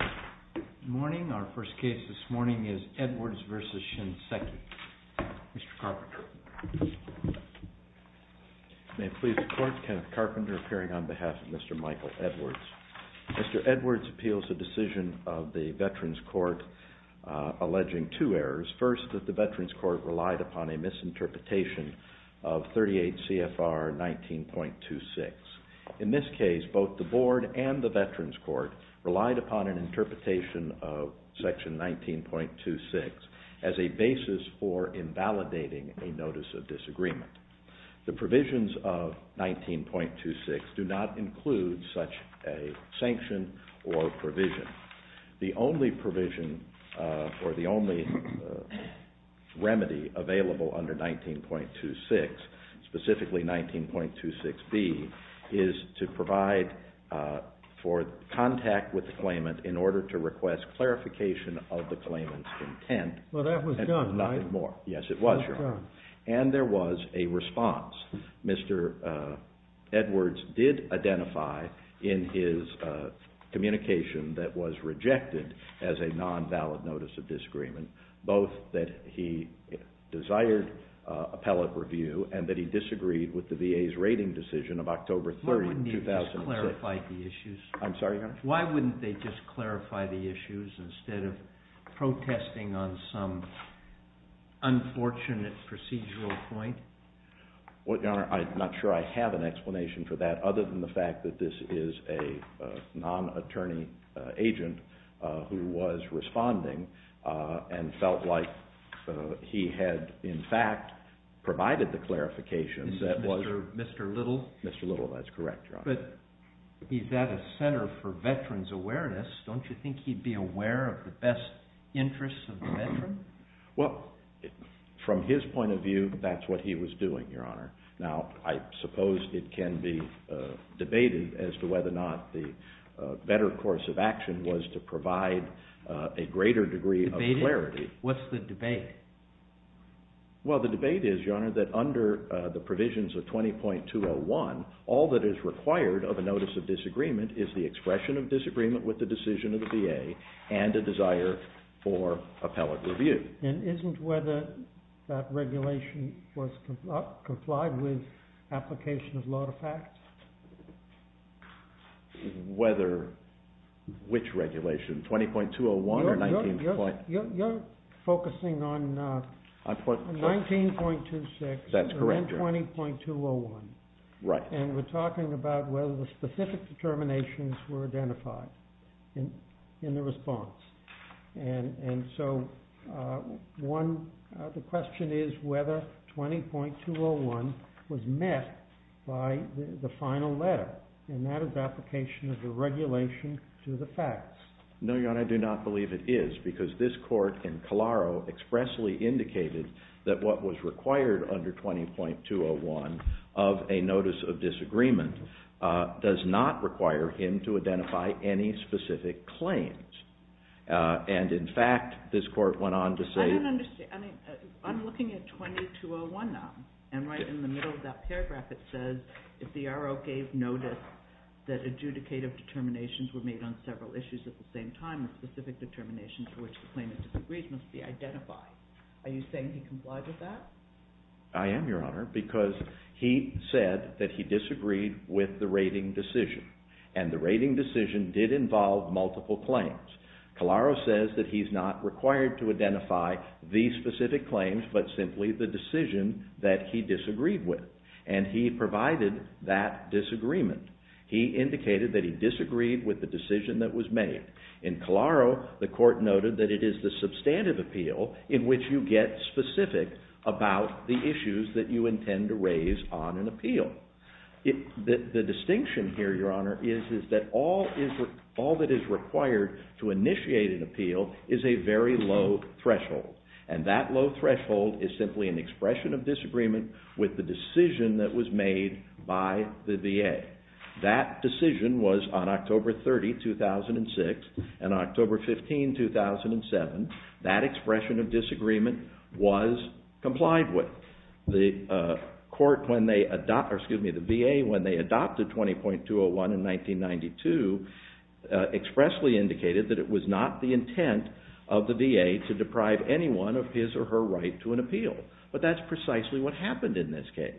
Good morning. Our first case this morning is Edwards v. Shinseki. Mr. Carpenter. May it please the Court, Kenneth Carpenter appearing on behalf of Mr. Michael Edwards. Mr. Edwards appeals a decision of the Veterans Court alleging two errors. First, that the Veterans Court relied upon a misinterpretation of 38 CFR 19.26. In this case, both the Board and the Veterans Court relied upon an interpretation of section 19.26 as a basis for invalidating a Notice of Disagreement. The provisions of 19.26 do not include such a sanction or provision. The only provision or the only remedy available under 19.26, specifically 19.26b, is to provide for contact with the claimant in order to request clarification of the claimant's intent. Well, that was done, right? Yes, it was. And there was a response. Mr. Edwards did identify in his communication that was rejected as a non-valid Notice of Disagreement, both that he desired appellate review and that he disagreed with the VA's rating decision of October 30, 2006. Why wouldn't he have just clarified the issues? I'm sorry, Your Honor? Why wouldn't they just clarify the issues instead of protesting on some unfortunate procedural point? Well, Your Honor, I'm not sure I have an explanation for that, other than the fact that this is a non-attorney agent who was responding and felt like he had, in fact, provided the clarification that was... Mr. Little? Mr. Little, that's correct, Your Honor. But he's at a Center for Veterans Awareness. Don't you think he'd be aware of the best interests of the veteran? Well, from his point of view, that's what he was doing, Your Honor. Now, I suppose it can be debated as to whether or not the better course of action was to provide a greater degree of clarity. What's the debate? Well, the debate is, Your Honor, that under the provisions of 20.201, all that is required of a Notice of Disagreement is the expression of disagreement with the decision of the VA and a desire for appellate review. And isn't whether that regulation was complied with application of a lot of facts? Whether which regulation, 20.201 or 19.26? You're focusing on 19.26 and then 20.201. Right. And we're talking about whether the specific determinations were identified in the response. And so, one, the question is whether 20.201 was met by the final letter, and that is application of the regulation to the facts. No, Your Honor, I do not believe it is, because this court in Calaro expressly indicated that what was required under 20.201 of a Notice of Disagreement does not require him to identify any specific claims. And, in fact, this court went on to say- I don't understand. I'm looking at 20.201 now, and right in the middle of that paragraph, it says if the RO gave notice that adjudicative determinations were made on several issues at the same time, specific determinations for which the claimant disagrees must be identified. Are you saying he complied with that? I am, Your Honor, because he said that he disagreed with the rating decision. And the rating decision did involve multiple claims. Calaro says that he's not required to identify these specific claims, but simply the decision that he disagreed with. And he provided that disagreement. He indicated that he disagreed with the decision that was made. In Calaro, the court noted that it is the substantive appeal in which you get specific about the issues that you intend to raise on an appeal. The distinction here, Your Honor, is that all that is required to initiate an appeal is a very low threshold. And that low threshold is simply an expression of disagreement with the decision that was made by the VA. That decision was on October 30, 2006, and October 15, 2007. That expression of disagreement was complied with. The VA, when they adopted 20.201 in 1992, expressly indicated that it was not the intent of the VA to deprive anyone of his or her right to an appeal. But that's precisely what happened in this case.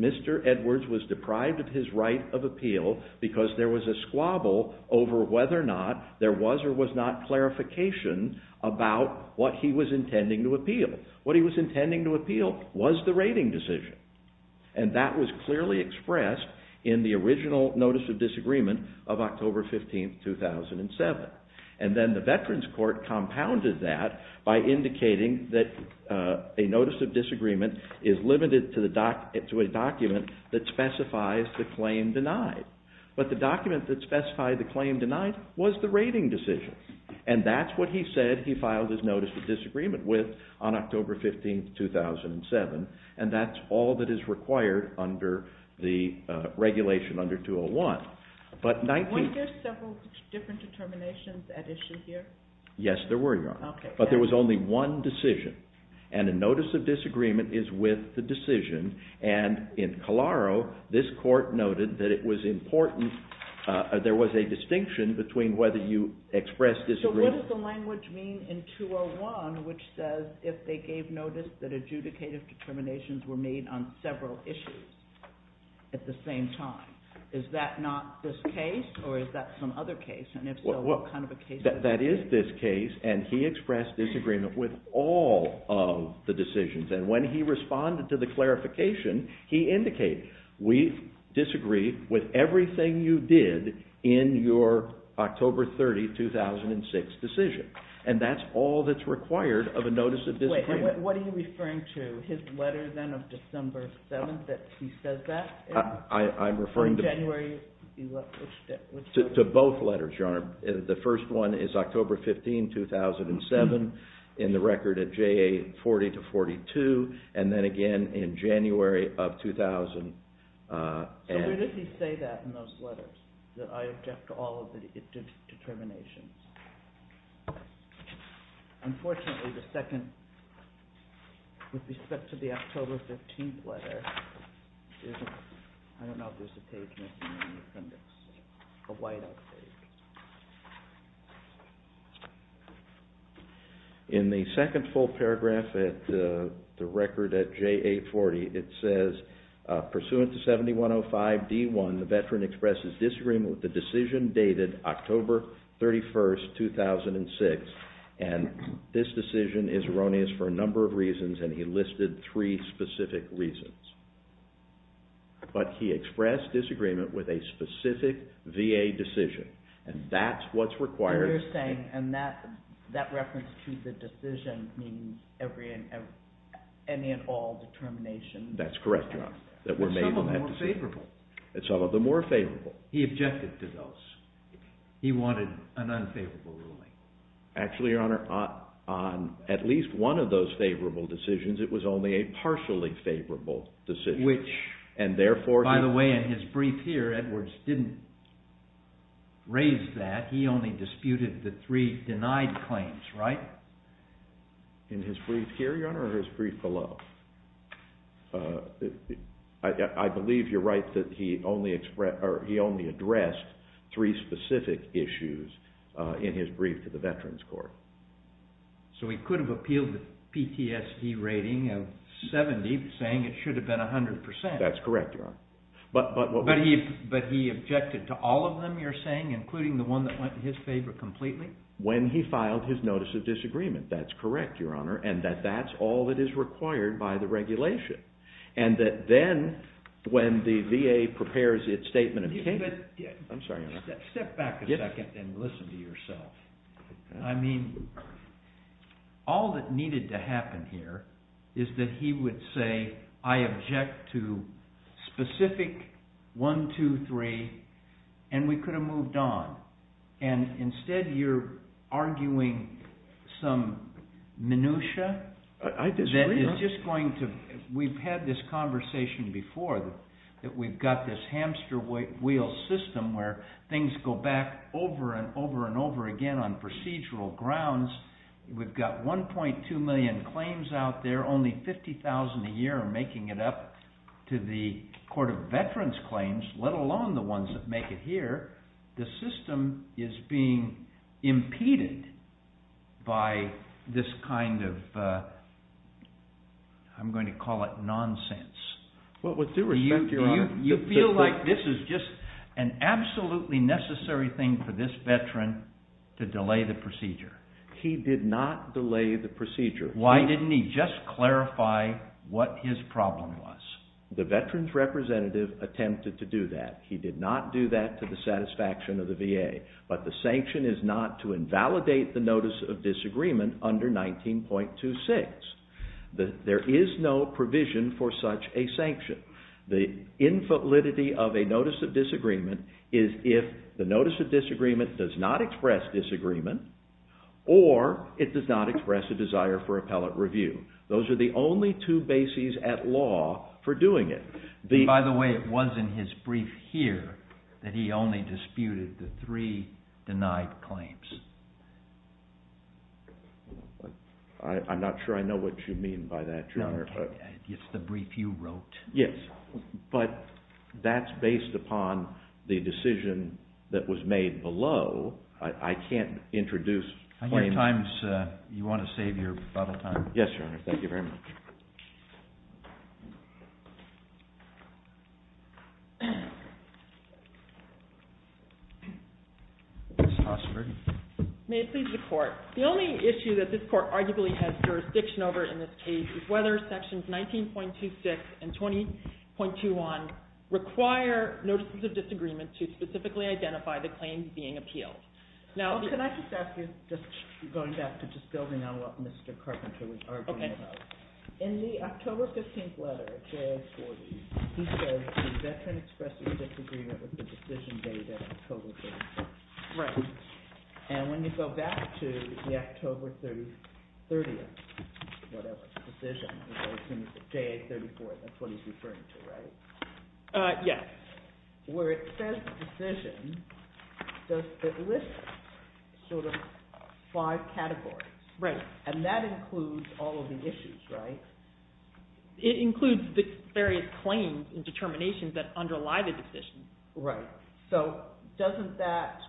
Mr. Edwards was deprived of his right of appeal because there was a squabble over whether or not there was or was not clarification about what he was intending to appeal. What he was intending to appeal was the rating decision. And that was clearly expressed in the original notice of disagreement of October 15, 2007. And then the Veterans Court compounded that by indicating that a notice of disagreement is limited to a document that specifies the claim denied. But the document that specified the claim denied was the rating decision. And that's what he said he filed his notice of disagreement with on October 15, 2007. And that's all that is required under the regulation under 201. Weren't there several different determinations at issue here? Yes, there were, Your Honor. But there was only one decision. And a notice of disagreement is with the decision. And in Calaro, this court noted that it was important, there was a distinction between whether you expressed disagreement... So what does the language mean in 201, which says, if they gave notice that adjudicative determinations were made on several issues at the same time? Is that not this case, or is that some other case? And if so, what kind of a case is it? That is this case. And he expressed disagreement with all of the decisions. And when he responded to the clarification, he indicated, we disagree with everything you did in your October 30, 2006 decision. And that's all that's required of a notice of disagreement. Wait, what are you referring to? His letter then of December 7th that he says that? I'm referring to both letters, Your Honor. The first one is October 15, 2007, in the record at JA 40-42, and then again in January of 2000. So did he say that in those letters, that I object to all of the determinations? Unfortunately, the second, with respect to the October 15th letter, I don't know if there's a page missing on the appendix, a whiteout page. In the second full paragraph at the record at JA 40, it says, pursuant to 7105D1, the veteran expresses disagreement with the decision dated October 31, 2006. And this decision is erroneous for a number of reasons, and he listed three specific reasons. But he expressed disagreement with a specific VA decision. And that's what's required. So you're saying that reference to the decision means any and all determination? That's correct, Your Honor, that we're made of that decision. And some of them were favorable. And some of them were favorable. He objected to those. He wanted an unfavorable ruling. Actually, Your Honor, on at least one of those favorable decisions, it was only a partially favorable decision. Which, by the way, in his brief here, Edwards didn't raise that. He only disputed the three denied claims, right? In his brief here, Your Honor, or his brief below? I believe you're right that he only addressed three specific issues in his brief to the Veterans Court. So he could have appealed the PTSD rating of 70, saying it should have been 100%. That's correct, Your Honor. But he objected to all of them, you're saying, including the one that went in his favor completely? When he filed his notice of disagreement, that's correct, Your Honor, and that that's all that is required by the regulation. And that then, when the VA prepares its statement of case, I'm sorry, Your Honor. Step back a second and listen to yourself. I mean, all that needed to happen here is that he would say, I object to specific one, two, three, and we could have moved on. And instead you're arguing some minutiae? I disagree, Your Honor. We've had this conversation before that we've got this hamster wheel system where things go back over and over and over again on procedural grounds. We've got 1.2 million claims out there. Only 50,000 a year are making it up to the Court of Veterans Claims, let alone the ones that make it here. The system is being impeded by this kind of, I'm going to call it nonsense. With due respect, Your Honor. Do you feel like this is just an absolutely necessary thing for this veteran to delay the procedure? He did not delay the procedure. Why didn't he just clarify what his problem was? The veterans representative attempted to do that. He did not do that to the satisfaction of the VA. But the sanction is not to invalidate the Notice of Disagreement under 19.26. There is no provision for such a sanction. The infallibility of a Notice of Disagreement is if the Notice of Disagreement does not express disagreement or it does not express a desire for appellate review. Those are the only two bases at law for doing it. By the way, it was in his brief here that he only disputed the three denied claims. I'm not sure I know what you mean by that, Your Honor. It's the brief you wrote. Yes, but that's based upon the decision that was made below. I can't introduce claims. You want to save your bottle time? Yes, Your Honor. Thank you very much. Ms. Hossberg. May it please the Court. The only issue that this Court arguably has jurisdiction over in this case is whether Sections 19.26 and 20.21 require Notices of Disagreement to specifically identify the claims being appealed. Can I just ask you, going back to just building on what Mr. Carpenter was arguing about. In the October 15th letter, JA-40, he says the veteran expresses disagreement with the decision dated October 30th. Right. And when you go back to the October 30th, whatever, decision, JA-34, that's what he's referring to, right? Yes. Where it says decision, it lists sort of five categories. Right. And that includes all of the issues, right? It includes the various claims and determinations that underlie the decision. Right. So doesn't that,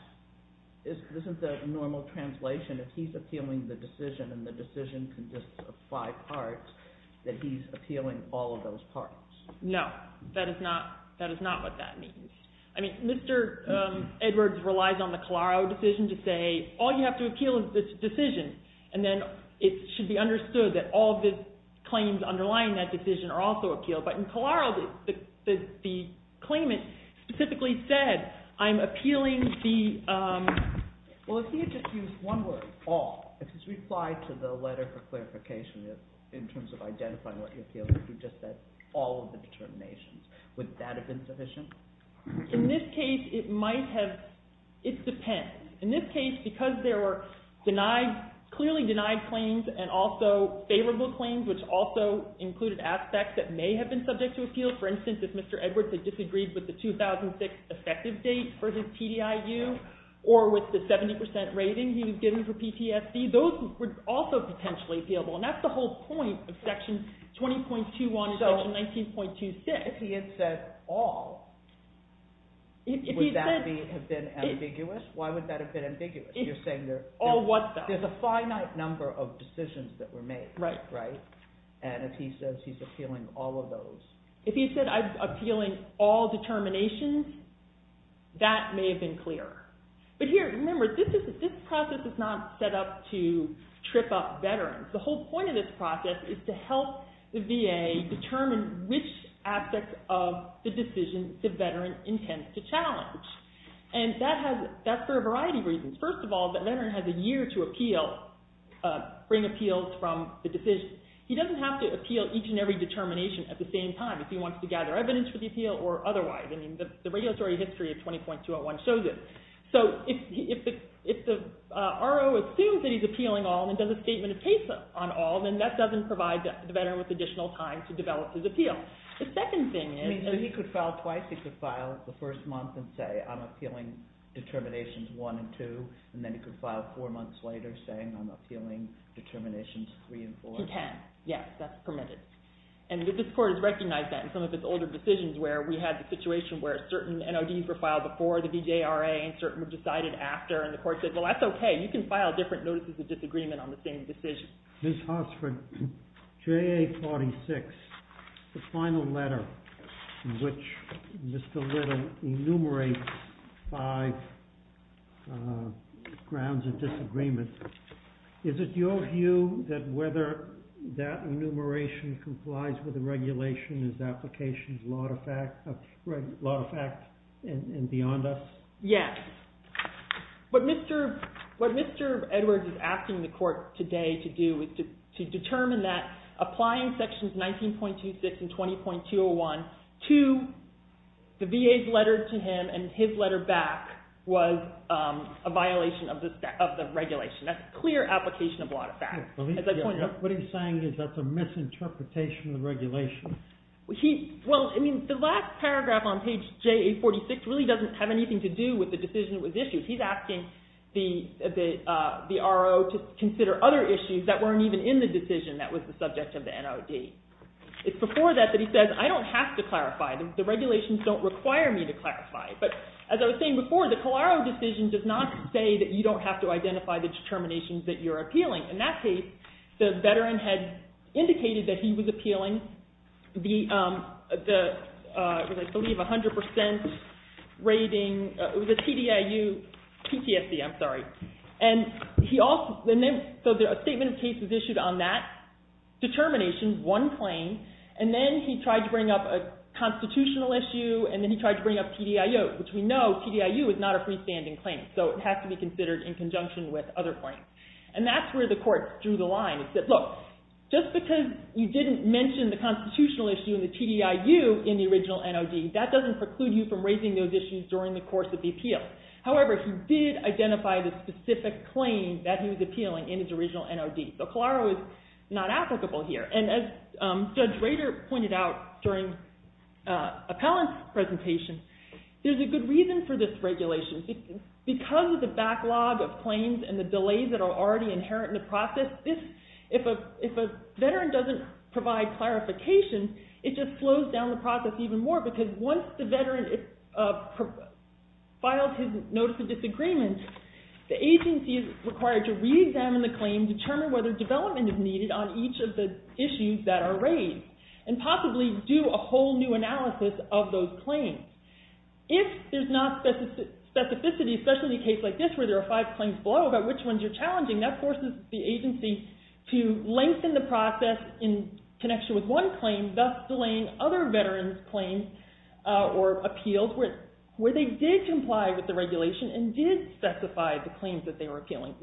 isn't the normal translation, if he's appealing the decision and the decision consists of five parts, that he's appealing all of those parts? No. That is not what that means. I mean, Mr. Edwards relies on the Calaro decision to say, all you have to appeal is this decision, and then it should be understood that all of the claims underlying that decision are also appealed. But in Calaro, the claimant specifically said, I'm appealing the, well, if he had just used one word, all, if he's replied to the letter for clarification in terms of identifying what he appeals to, he just said all of the determinations. Wouldn't that have been sufficient? In this case, it might have, it depends. In this case, because there were clearly denied claims and also favorable claims, which also included aspects that may have been subject to appeal, for instance, if Mr. Edwards had disagreed with the 2006 effective date for his TDIU or with the 70% rating he was given for PTSD, those would also potentially appeal. And that's the whole point of Section 20.21 and Section 19.26. So if he had said all, would that have been ambiguous? Why would that have been ambiguous? You're saying there's a finite number of decisions that were made. And if he says he's appealing all of those. If he said, I'm appealing all determinations, that may have been clearer. But here, remember, this process is not set up to trip up veterans. The whole point of this process is to help the VA determine which aspects of the decision the veteran intends to challenge. And that's for a variety of reasons. First of all, that veteran has a year to appeal, bring appeals from the decision. He doesn't have to appeal each and every determination at the same time if he wants to gather evidence for the appeal or otherwise. The regulatory history of 20.201 shows it. So if the RO assumes that he's appealing all and does a statement of case on all, then that doesn't provide the veteran with additional time to develop his appeal. The second thing is... So he could file twice. He could file the first month and say, I'm appealing determinations one and two. And then he could file four months later saying, I'm appealing determinations three and four. He can. Yes, that's permitted. And this court has recognized that in some of its older decisions where we had the situation where certain NODs were filed before the VJRA and certain were decided after. And the court said, well, that's okay. You can file different notices of disagreement on the same decision. Ms. Hossford, JA46, the final letter in which Mr. Lytton enumerates five grounds of disagreement. Is it your view that whether that enumeration complies with the regulation is applications law of effect and beyond us? Yes. What Mr. Edwards is asking the court today to do is to determine that applying sections 19.26 and 20.201 to the VA's letter to him and his letter back was a violation of the regulation. That's a clear application of law of effect. What he's saying is that's a misinterpretation of the regulation. Well, I mean, the last paragraph on page JA46 really doesn't have anything to do with the decision that was issued. He's asking the RO to consider other issues that weren't even in the decision that was the subject of the NOD. It's before that that he says, I don't have to clarify. The regulations don't require me to clarify. But as I was saying before, the Colaro decision does not say that you don't have to identify the determinations that you're appealing. In that case, the veteran had indicated that he was appealing the, I believe, 100% rating. It was a TDIU PTSD, I'm sorry. And he also, so a statement of case was issued on that determination, one claim, and then he tried to bring up a constitutional issue and then he tried to bring up TDIU, which we know TDIU is not a freestanding claim. So it has to be considered in conjunction with other claims. And that's where the court drew the line. It said, look, just because you didn't mention the constitutional issue and the TDIU in the original NOD, that doesn't preclude you from raising those issues during the course of the appeal. However, he did identify the specific claim that he was appealing in his original NOD. So Colaro is not applicable here. And as Judge Rader pointed out during Appellant's presentation, there's a good reason for this regulation. Because of the backlog of claims and the delays that are already inherent in the process, if a veteran doesn't provide clarification, it just slows down the process even more. Because once the veteran files his Notice of Disagreement, the agency is required to reexamine the claim, determine whether development is needed on each of the issues that are raised, and possibly do a whole new analysis of those claims. If there's not specificity, especially in a case like this where there are five claims below about which ones you're challenging, that forces the agency to lengthen the process in connection with one claim and thus delaying other veterans' claims or appeals where they did comply with the regulation and did specify the claims that they were appealing.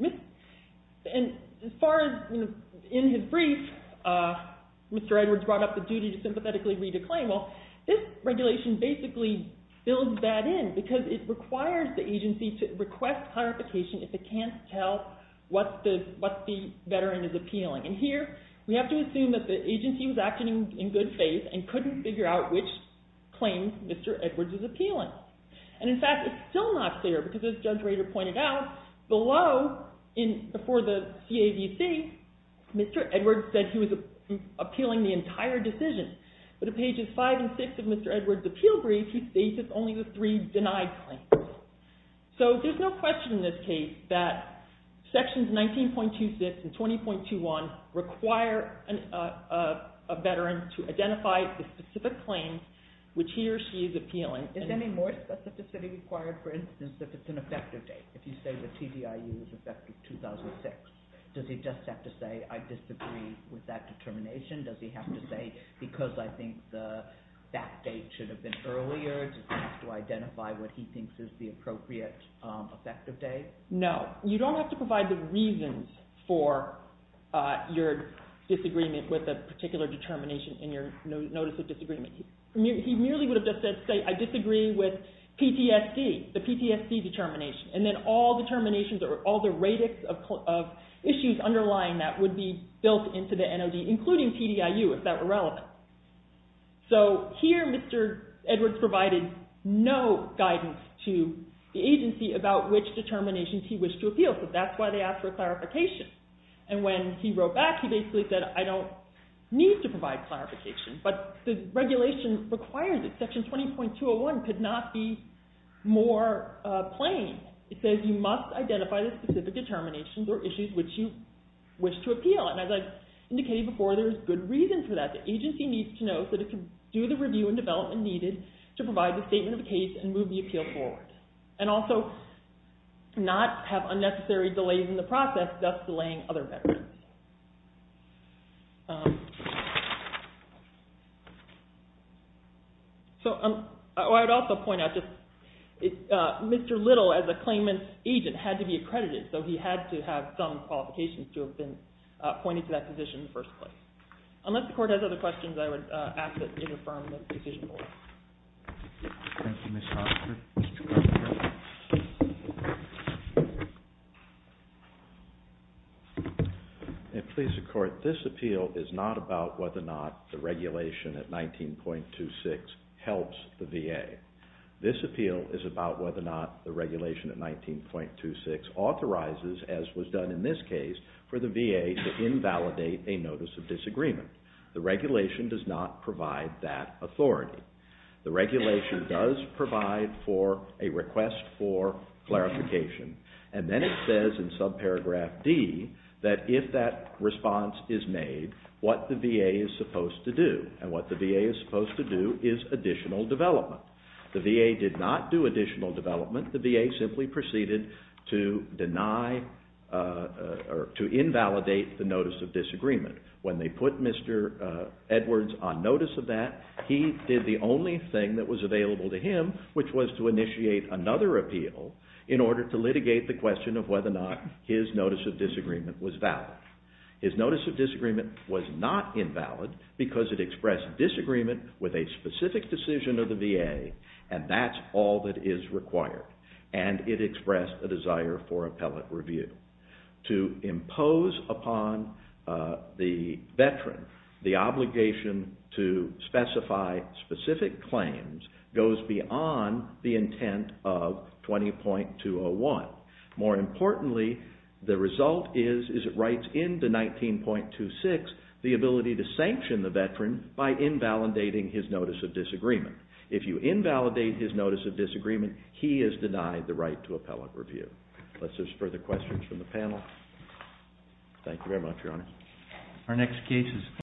And as far as in his brief, Mr. Edwards brought up the duty to sympathetically read a claim. Well, this regulation basically builds that in because it requires the agency to request clarification if it can't tell what the veteran is appealing. And here, we have to assume that the agency was acting in good faith and couldn't figure out which claims Mr. Edwards was appealing. And in fact, it's still not clear because as Judge Rader pointed out, below for the CAVC, Mr. Edwards said he was appealing the entire decision. But in pages 5 and 6 of Mr. Edwards' appeal brief, he states it's only the three denied claims. So there's no question in this case that Sections 19.26 and 20.21 require a veteran to identify the specific claims which he or she is appealing. Is any more specificity required, for instance, if it's an effective date? If you say the TDIU is effective 2006, does he just have to say, I disagree with that determination? Does he have to say, because I think that date should have been earlier? Does he have to identify what he thinks is the appropriate effective date? No. You don't have to provide the reasons for your disagreement with a particular determination in your Notice of Disagreement. He merely would have just said, say, I disagree with PTSD, the PTSD determination. And then all determinations or all the radix of issues underlying that would be built into the NOD, including TDIU, if that were relevant. So here Mr. Edwards provided no guidance to the agency about which determinations he wished to appeal. So that's why they asked for clarification. And when he wrote back, he basically said, I don't need to provide clarification, but the regulation requires it. Section 20.201 could not be more plain. It says you must identify the specific determinations or issues which you wish to appeal. And as I indicated before, there's good reasons for that. The agency needs to know so that it can do the review and development needed to provide the statement of the case and move the appeal forward. And also not have unnecessary delays in the process, thus delaying other veterans. So I would also point out that Mr. Little, as a claimant's agent, had to be accredited, so he had to have some qualifications to have been appointed to that position in the first place. Unless the Court has other questions, I would ask that you confirm the decision. Please, the Court, this appeal is not about whether or not the regulation at 19.26 helps the VA. This appeal is about whether or not the regulation at 19.26 authorizes, as was done in this case, for the VA to invalidate a notice of disagreement. The regulation does not provide that authority. The regulation does provide for a request for clarification. And then it says in subparagraph D that if that response is made, what the VA is supposed to do. And what the VA is supposed to do is additional development. The VA did not do additional development. The VA simply proceeded to invalidate the notice of disagreement. When they put Mr. Edwards on notice of that, he did the only thing that was available to him, which was to initiate another appeal in order to litigate the question of whether or not his notice of disagreement was valid. His notice of disagreement was not invalid because it expressed disagreement with a specific decision of the VA, and that's all that is required. And it expressed a desire for appellate review. To impose upon the veteran the obligation to specify specific claims goes beyond the intent of 20.201. More importantly, the result is it writes into 19.26 the ability to sanction the veteran by invalidating his notice of disagreement. If you invalidate his notice of disagreement, he is denied the right to appellate review. Unless there's further questions from the panel. Thank you very much, Your Honor. Our next case is